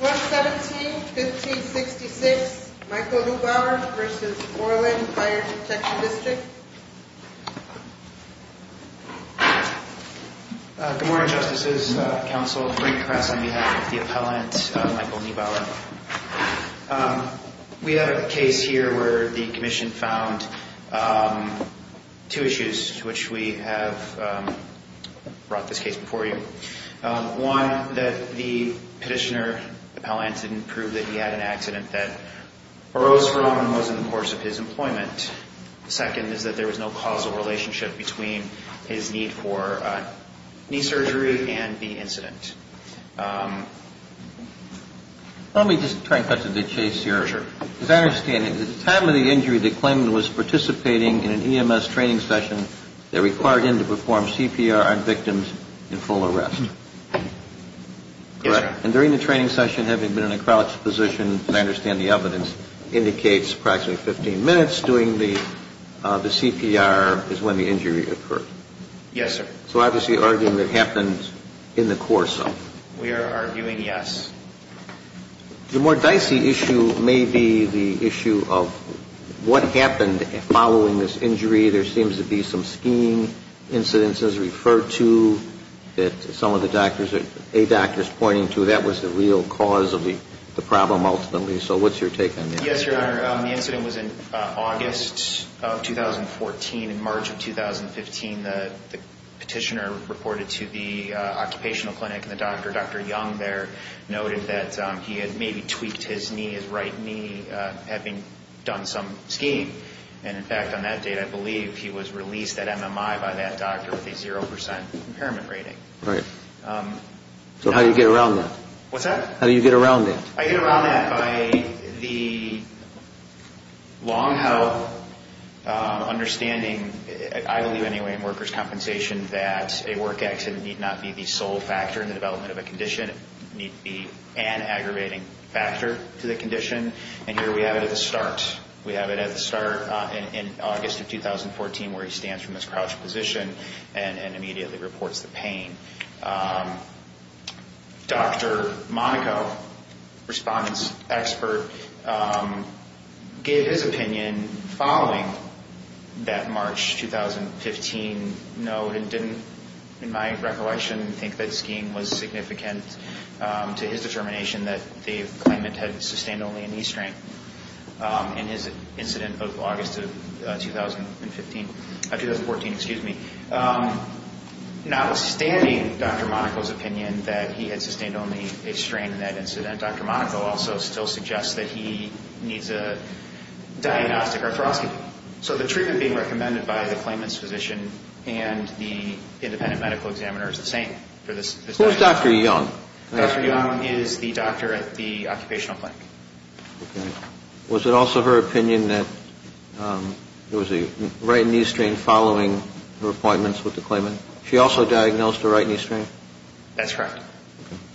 117-1566 Michael Neubauer v. Orland Fire Protection District Good morning, Justices, Counsel, Frank Kras on behalf of the Appellant, Michael Neubauer. We have a case here where the Commission found two issues to which we have brought this case before you. One, that the Petitioner, the Appellant, didn't prove that he had an accident that arose from and was in the course of his employment. The second is that there was no causal relationship between his need for knee surgery and the incident. Let me just try and cut to the chase here. Sure. As I understand it, at the time of the injury, the claimant was participating in an EMS training session that required him to perform CPR on victims in full arrest. Yes, sir. And during the training session, having been in a crouched position, and I understand the evidence, indicates approximately 15 minutes during the CPR is when the injury occurred. Yes, sir. So obviously arguing that it happened in the course of. We are arguing yes. The more dicey issue may be the issue of what happened following this injury. There seems to be some skiing incidents as referred to that some of the doctors, a doctors pointing to that was the real cause of the problem ultimately. So what's your take on that? Yes, Your Honor. The incident was in August of 2014. In March of 2015, the Petitioner reported to the occupational clinic and the doctor, Dr. Young there, noted that he had maybe tweaked his knee, his right knee, having done some skiing. And, in fact, on that date, I believe he was released at MMI by that doctor with a 0% impairment rating. Right. So how do you get around that? What's that? How do you get around that? I get around that by the long-held understanding, I believe anyway, in workers' compensation that a work accident need not be the sole factor in the development of a condition. It need be an aggravating factor to the condition. And here we have it at the start. We have it at the start in August of 2014 where he stands from his crouched position and immediately reports the pain. Dr. Monaco, respondent's expert, gave his opinion following that March 2015 note and didn't, in my recollection, think that skiing was significant to his determination that the claimant had sustained only a knee strain in his incident of August of 2015. Of 2014, excuse me. Notwithstanding Dr. Monaco's opinion that he had sustained only a strain in that incident, Dr. Monaco also still suggests that he needs a diagnostic arthroscopy. So the treatment being recommended by the claimant's physician and the independent medical examiner is the same for this doctor. Who's Dr. Young? Dr. Young is the doctor at the occupational clinic. Was it also her opinion that there was a right knee strain following her appointments with the claimant? She also diagnosed a right knee strain? That's correct.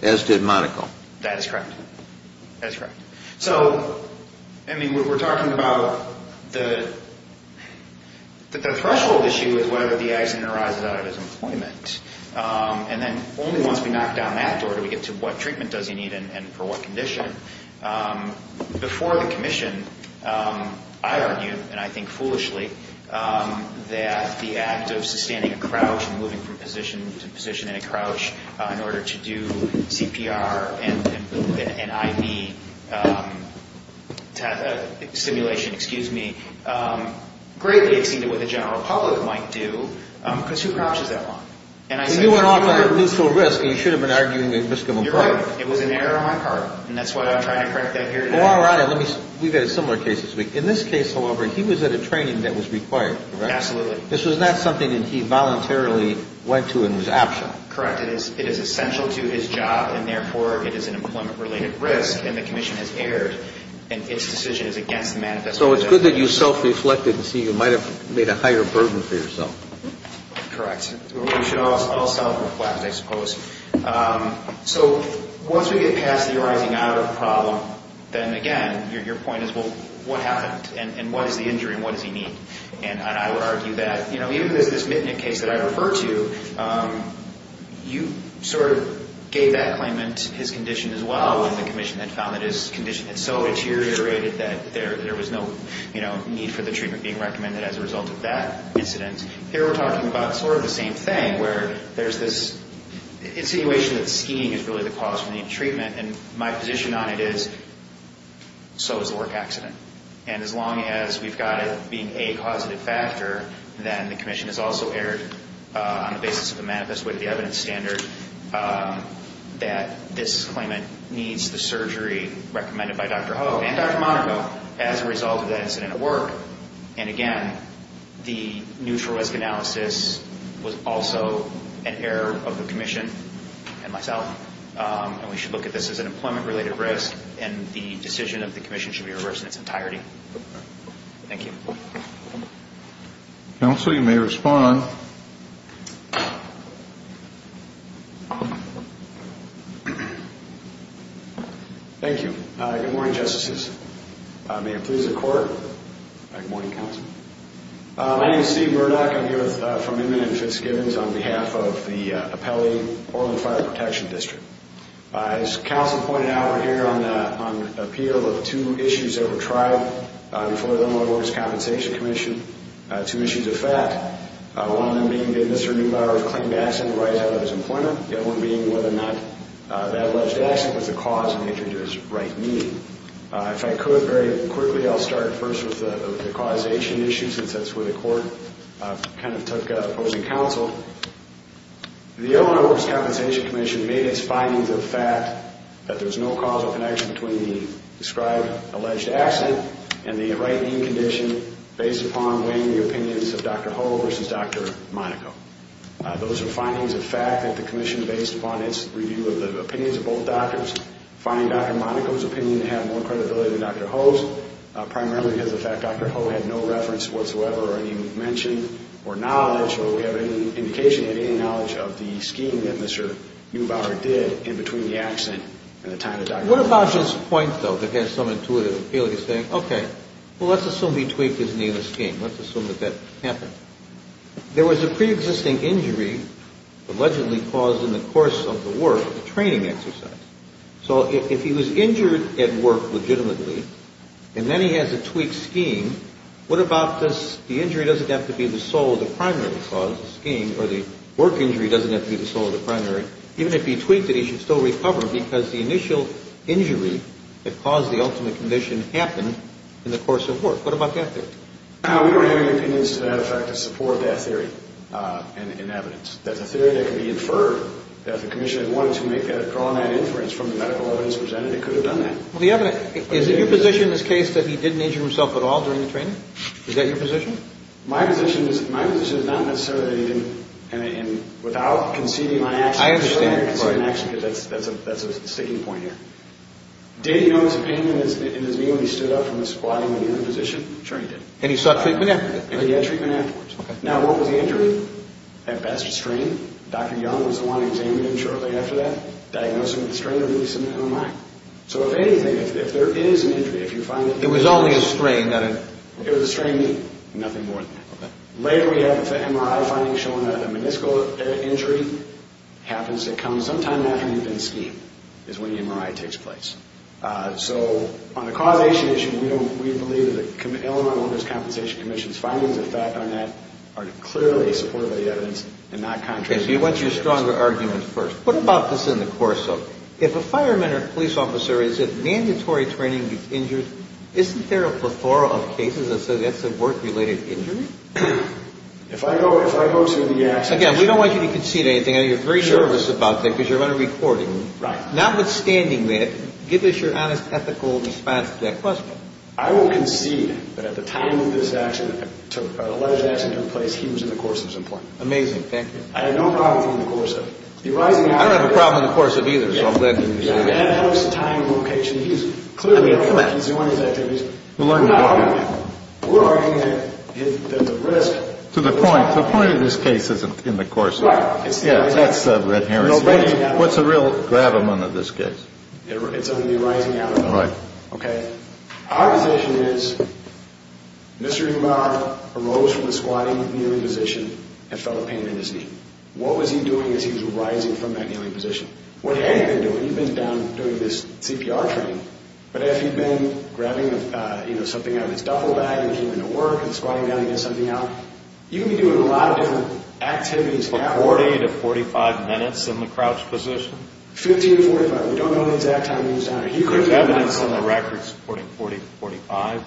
As did Monaco. That is correct. That is correct. So, I mean, we're talking about the threshold issue is whether the accident arises out of his employment. And then only once we knock down that door do we get to what treatment does he need and for what condition. Before the commission, I argued, and I think foolishly, that the act of sustaining a crouch and moving from position to position in a crouch in order to do CPR and IV stimulation, greatly exceeded what the general public might do because who crouches that long? You went off on a neutral risk and you should have been arguing the risk of impartiality. You're right. It was an error on my part and that's why I'm trying to correct that here today. All right. We've had a similar case this week. In this case, however, he was at a training that was required, correct? Absolutely. This was not something that he voluntarily went to and was optional. Correct. It is essential to his job and, therefore, it is an employment-related risk and the commission has erred and its decision is against the manifesto. So it's good that you self-reflected and see you might have made a higher burden for yourself. Correct. We should all self-reflect, I suppose. So once we get past the arising out of the problem, then, again, your point is, well, what happened? And what is the injury and what does he need? And I would argue that, you know, even in this Mitnick case that I referred to, you sort of gave that claimant his condition as well when the commission had found that his condition had so deteriorated that there was no, you know, need for the treatment being recommended as a result of that incident. Here we're talking about sort of the same thing where there's this insinuation that skiing is really the cause for the treatment and my position on it is so is the work accident. And as long as we've got it being a causative factor, then the commission has also erred on the basis of the manifesto with the evidence standard that this claimant needs the surgery recommended by Dr. Ho and Dr. Monaco as a result of that incident at work. And, again, the neutral risk analysis was also an error of the commission and myself. And we should look at this as an employment-related risk and the decision of the commission should be reversed in its entirety. Thank you. Counsel, you may respond. Thank you. Good morning, Justices. May it please the Court. Good morning, Counsel. My name is Steve Burnack. I'm here from Inman and Fitzgibbons on behalf of the Appellee Orland Fire Protection District. As Counsel pointed out, we're here on the appeal of two issues that were tried before the Illinois Workers' Compensation Commission, two issues of fact, one of them being did Mr. Neubauer's claim to accident arise out of his employment, the other one being whether or not that alleged accident was the cause of the injury to his right knee. If I could, very quickly, I'll start first with the causation issue since that's where the Court kind of took opposing counsel. The Illinois Workers' Compensation Commission made its findings of fact that there's no causal connection between the described alleged accident and the right knee condition based upon weighing the opinions of Dr. Ho versus Dr. Monaco. Those are findings of fact that the commission based upon its review of the opinions of both doctors, find Dr. Monaco's opinion to have more credibility than Dr. Ho's primarily because of the fact Dr. Ho had no reference whatsoever or any mention or knowledge or we have any indication of any knowledge of the skiing that Mr. Neubauer did in between the accident and the time of Dr. Monaco. What about his point, though, that has some intuitive appeal? He's saying, okay, well, let's assume he tweaked his knee in the skiing. Let's assume that that happened. There was a preexisting injury allegedly caused in the course of the work, a training exercise. So if he was injured at work legitimately and then he has a tweaked skiing, what about this? The injury doesn't have to be the sole or the primary cause of skiing or the work injury doesn't have to be the sole or the primary. Even if he tweaked it, he should still recover because the initial injury that caused the ultimate condition happened in the course of work. What about that theory? We don't have any opinions to that effect to support that theory in evidence. That's a theory that can be inferred. If the commission had wanted to draw that inference from the medical evidence presented, it could have done that. Is it your position in this case that he didn't injure himself at all during the training? Is that your position? My position is not necessarily that he didn't. And without conceding my action, that's a sticking point here. Did he notice a pain in his knee when he stood up from the squatting when you were in position? Sure he did. And he sought treatment afterwards? And he got treatment afterwards. Now, what was the injury? At best, a strain. Dr. Young was the one who examined him shortly after that, diagnosed him with a strain and released him into a mine. So if anything, if there is an injury, if you find it... It was only a strain, not a... It was a strain knee, nothing more than that. Later we have MRI findings showing that a meniscal injury happens sometime after you've been steamed is when the MRI takes place. So on the causation issue, we believe that the Illinois Workers' Compensation Commission's findings on that are clearly supportive of the evidence and not contrary... Okay, but you want your stronger argument first. What about this in the course of... If a fireman or police officer is at mandatory training, gets injured, isn't there a plethora of cases that say that's a work-related injury? If I go to the accident... Again, we don't want you to concede anything. I know you're very nervous about that because you're on a recording. Right. Notwithstanding that, give us your honest, ethical response to that question. I will concede that at the time of this accident, the alleged accident took place, he was in the course of his employment. Amazing, thank you. I had no problem in the course of it. I don't have a problem in the course of it either, so I'm glad to hear that. That was the time and location. Clearly, he was doing his activities. We're arguing that the risk... To the point, the point of this case isn't in the course of it. Yeah, that's the inherent... What's the real gravamen of this case? It's on the arising out of it. Right. Okay. Our position is, Mr. Umar arose from the squatting, kneeling position and felt pain in his knee. What was he doing as he was rising from that kneeling position? What he had been doing, he'd been down doing this CPR training, but as he'd been grabbing something out of his duffel bag and he came into work and squatting down, he had something out. You can be doing a lot of different activities... 40 to 45 minutes in the crouched position? 15 to 45. We don't know the exact time he was down. There's evidence on the record supporting 40 to 45.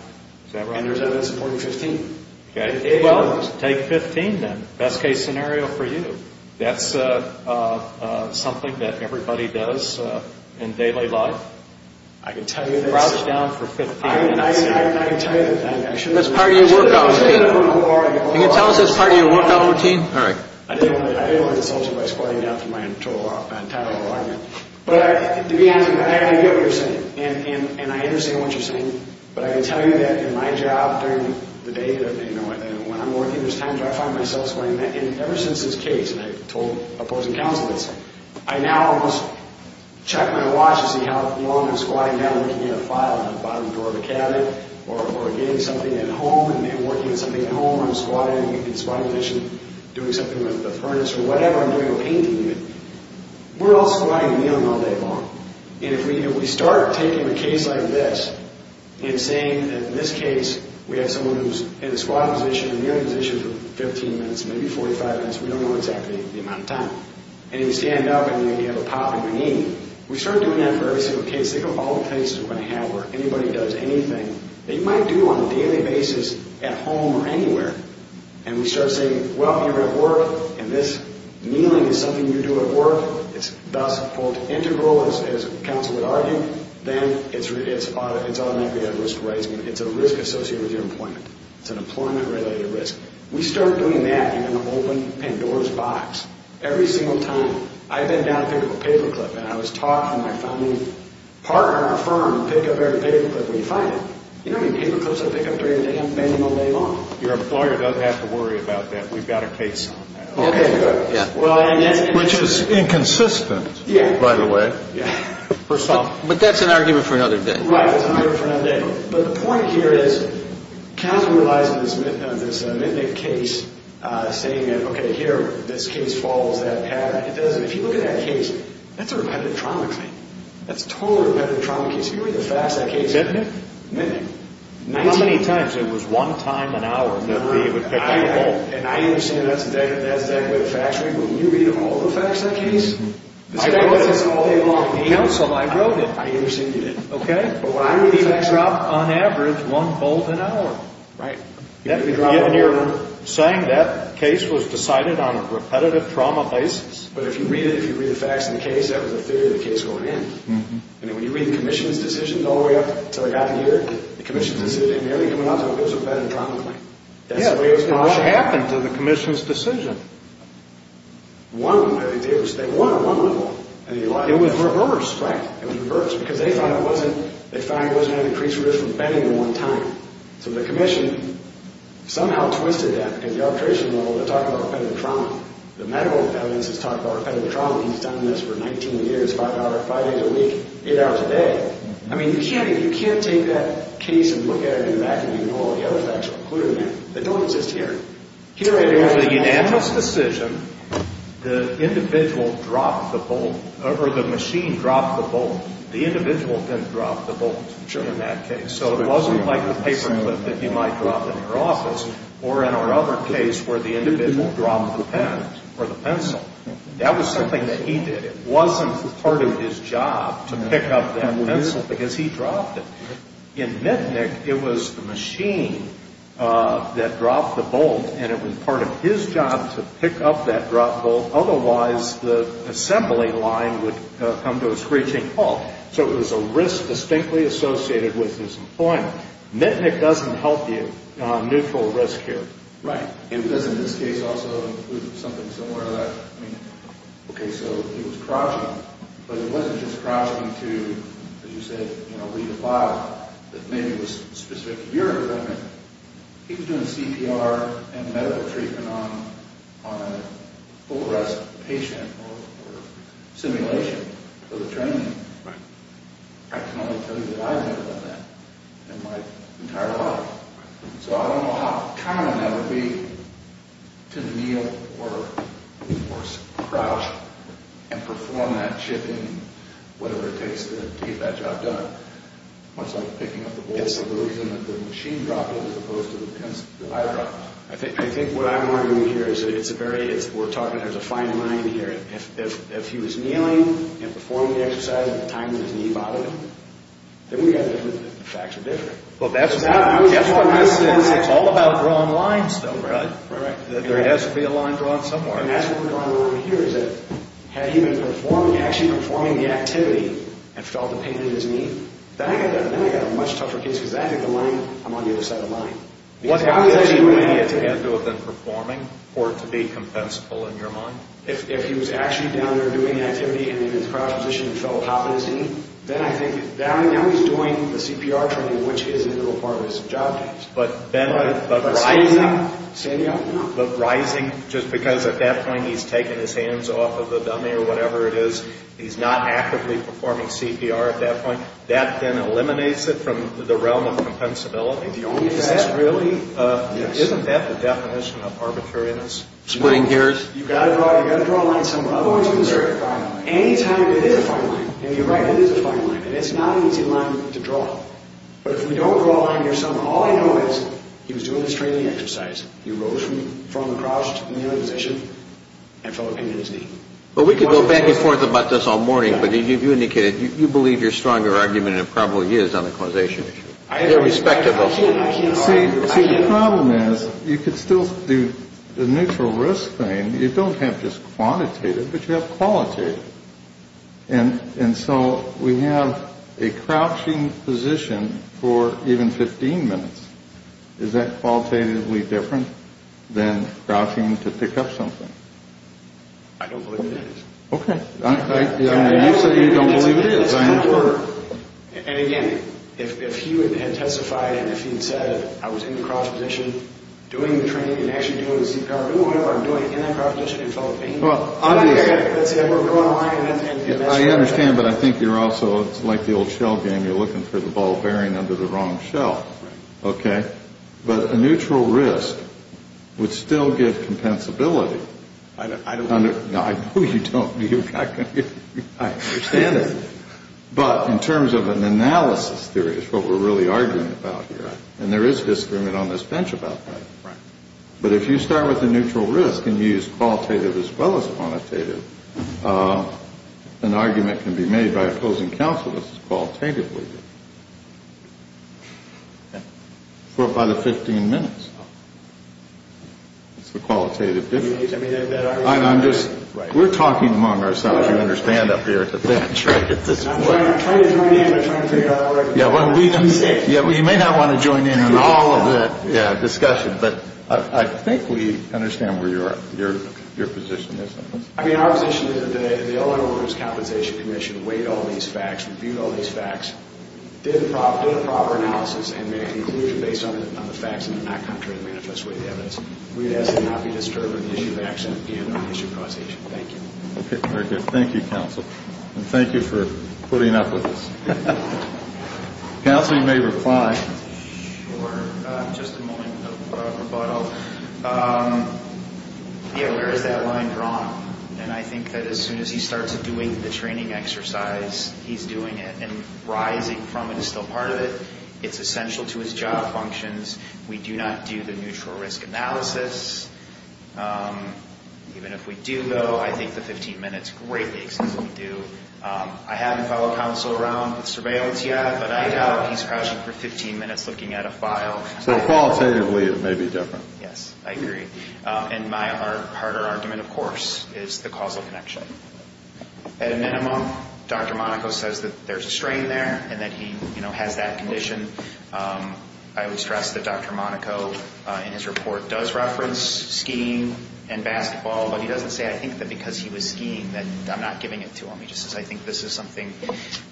Is that right? And there's evidence supporting 15. Okay. Well, take 15 then. Best case scenario for you. That's something that everybody does in daily life? I can tell you that's... Crouched down for 15 minutes. I can tell you that... That's part of your workout routine? Can you tell us that's part of your workout routine? All right. I didn't want to insult you by squatting down for my entire whole argument. But to be honest with you, I understand what you're saying, and I understand what you're saying, but I can tell you that in my job during the day, when I'm working, there's times where I find myself squatting down, and ever since this case, and I've told opposing counselors, I now almost check my watch to see how long I'm squatting down looking at a file on the bottom drawer of a cabinet or getting something at home and working on something at home. I'm squatting in the squatting position doing something with the furnace or whatever I'm doing or painting. We're all squatting and kneeling all day long, and if we start taking a case like this and saying that in this case we have someone who's in the squatting position and kneeling position for 15 minutes, maybe 45 minutes, we don't know exactly the amount of time, and you stand up and you have a pop in your knee, we start doing that for every single case. Think of all the cases we're going to have where anybody does anything that you might do on a daily basis at home or anywhere, and we start saying, well, you're at work, and this kneeling is something you do at work. It's thus, quote, integral, as counsel would argue. Then it's automatically a risk-raising. It's a risk associated with your employment. It's an employment-related risk. We start doing that, and you're going to open Pandora's box every single time. I've been down to pick up a paperclip, and I was taught from my founding partner in our firm to pick up every paperclip we find. You know how many paperclips I pick up during the day? I'm painting all day long. Your employer doesn't have to worry about that. We've got a case on that. Okay, good. Which is inconsistent, by the way. But that's an argument for another day. Right, it's an argument for another day. But the point here is, counsel relies on this Mitnick case, saying that, okay, here, this case follows that pattern. It doesn't. If you look at that case, that's a repetitive trauma claim. That's a totally repetitive trauma case. If you read the facts of that case... Mitnick? Mitnick. How many times? It was one time an hour that we would pick up the whole... And I understand that's exactly what the facts read. But when you read all the facts of that case... I wrote this all day long. Counsel, I wrote it. I understand you did. Okay. But when I read the facts... You drop, on average, one bolt an hour. Right. If you're saying that case was decided on a repetitive trauma basis... But if you read it, if you read the facts of the case, that was a theory of the case going in. And when you read the commission's decision all the way up until it got here, the commission's decision didn't nearly come out until it was a repetitive trauma claim. Yeah, but what happened to the commission's decision? One, they won one-on-one. It was reversed. Right, it was reversed. Because they thought it wasn't an increased risk of offending in one time. So the commission somehow twisted that at the arbitration level to talk about repetitive trauma. The medical evidence has talked about repetitive trauma. He's done this for 19 years, 5 days a week, 8 hours a day. I mean, you can't take that case and look at it in the back and ignore all the other facts that are included in there. They don't exist here. Here, it is a unanimous decision. The individual dropped the bolt. Or the machine dropped the bolt. The individual then dropped the bolt in that case. So it wasn't like the paper clip that you might drop in your office or in our other case where the individual dropped the pen or the pencil. That was something that he did. It wasn't part of his job to pick up that pencil because he dropped it. In Mitnick, it was the machine that dropped the bolt, and it was part of his job to pick up that dropped bolt. Otherwise, the assembly line would come to a screeching halt. So it was a risk distinctly associated with his employment. Mitnick doesn't help you on neutral risk here. Right. It does in this case also include something similar to that. I mean, okay, so he was crouching, but he wasn't just crouching to, as you said, read a file that maybe was specific to your employment. He was doing CPR and medical treatment on a full arrest patient or simulation for the training. Right. I can only tell you that I've never done that in my entire life. So I don't know how common that would be to kneel or crouch and perform that chipping, whatever it takes to get that job done. Much like picking up the bolt. Is this the reason that the machine dropped it as opposed to the high drop? I think what I'm arguing here is it's a very, we're talking, there's a fine line here. If he was kneeling and performing the exercise at the time that his knee bothered him, then we've got to believe that the facts are different. Well, that's what this is. It's all about drawing lines, though. Right. There has to be a line drawn somewhere. And that's what we're drawing a line here is that had he been performing, actually performing the activity and felt the pain in his knee, then I've got a much tougher case because I think the line, I'm on the other side of the line. What has he had to do other than performing for it to be compensable in your mind? If he was actually down there doing activity and in his crouched position and felt a pop in his knee, then I think, now he's doing the CPR training, which is a real part of his job. But then the rising, just because at that point he's taken his hands off of the dummy or whatever it is, he's not actively performing CPR at that point, that then eliminates it from the realm of compensability. Is that really, isn't that the definition of arbitrariness? You've got to draw a line somewhere. Anytime there is a fine line, and you're right, there is a fine line, and it's not an easy line to draw. But if we don't draw a line here somewhere, all I know is he was doing this training exercise. He rose from the crouched position and felt a pain in his knee. Well, we could go back and forth about this all morning, but you indicated you believe your stronger argument and it probably is on the causation issue. They're respectable. See, the problem is you could still do the neutral risk thing. You don't have just quantitative, but you have qualitative. And so we have a crouching position for even 15 minutes. Is that qualitatively different than crouching to pick up something? I don't believe it is. Okay. You say you don't believe it is. And again, if he had testified and if he had said, I was in the crouched position doing the training and actually doing the CPR, doing whatever I'm doing in that crouched position and felt a pain, let's say I were to draw a line and that's what I would do. I understand, but I think you're also, it's like the old shell game, you're looking for the ball bearing under the wrong shell. Okay. But a neutral risk would still give compensability. I don't believe it. No, I know you don't. I understand it. But in terms of an analysis theory is what we're really arguing about here. And there is history on this bench about that. Right. But if you start with a neutral risk and you use qualitative as well as quantitative, an argument can be made by opposing counsel that this is qualitatively good. Okay. By the 15 minutes. Oh. It's the qualitative difference. I'm just, we're talking among ourselves, you understand, up here at the bench, right, at this point. I'm trying to join in, but I'm trying to figure out what I can say. Yeah, well, you may not want to join in on all of the discussion, but I think we understand where your position is on this. I mean, our position is that the Illinois Workers' Compensation Commission weighed all these facts, reviewed all these facts, did a proper analysis, and made a conclusion based on the facts in a not contrary to the manifest way of the evidence. We ask that it not be disturbed in the issue of accident and on the issue of causation. Thank you. Okay. Very good. Thank you, counsel. And thank you for putting up with us. Counsel, you may reply. Sure. Just a moment of rebuttal. Yeah, where is that line drawn? And I think that as soon as he starts doing the training exercise, he's doing it, and rising from it is still part of it. It's essential to his job functions. We do not do the neutral risk analysis. Even if we do, though, I think the 15 minutes greatly exceeds what we do. I haven't followed counsel around with surveillance yet, but I doubt he's crashing for 15 minutes looking at a file. So qualitatively it may be different. Yes. I agree. And my harder argument, of course, is the causal connection. At a minimum, Dr. Monaco says that there's a strain there and that he has that condition. I would stress that Dr. Monaco in his report does reference skiing and basketball, but he doesn't say, I think that because he was skiing that I'm not giving it to him. He just says, I think this is something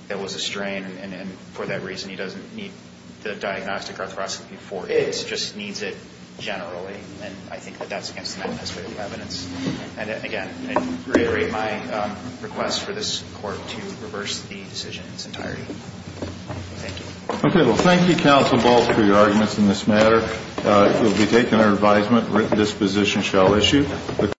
that was a strain, and for that reason he doesn't need the diagnostic arthroscopy for it. He just needs it generally. And I think that that's against the mechanism of the evidence. And, again, I'd reiterate my request for this court to reverse the decision in its entirety. Thank you. Okay. Well, thank you, Counsel Ball, for your arguments in this matter. It will be taken under advisement. Written disposition shall issue.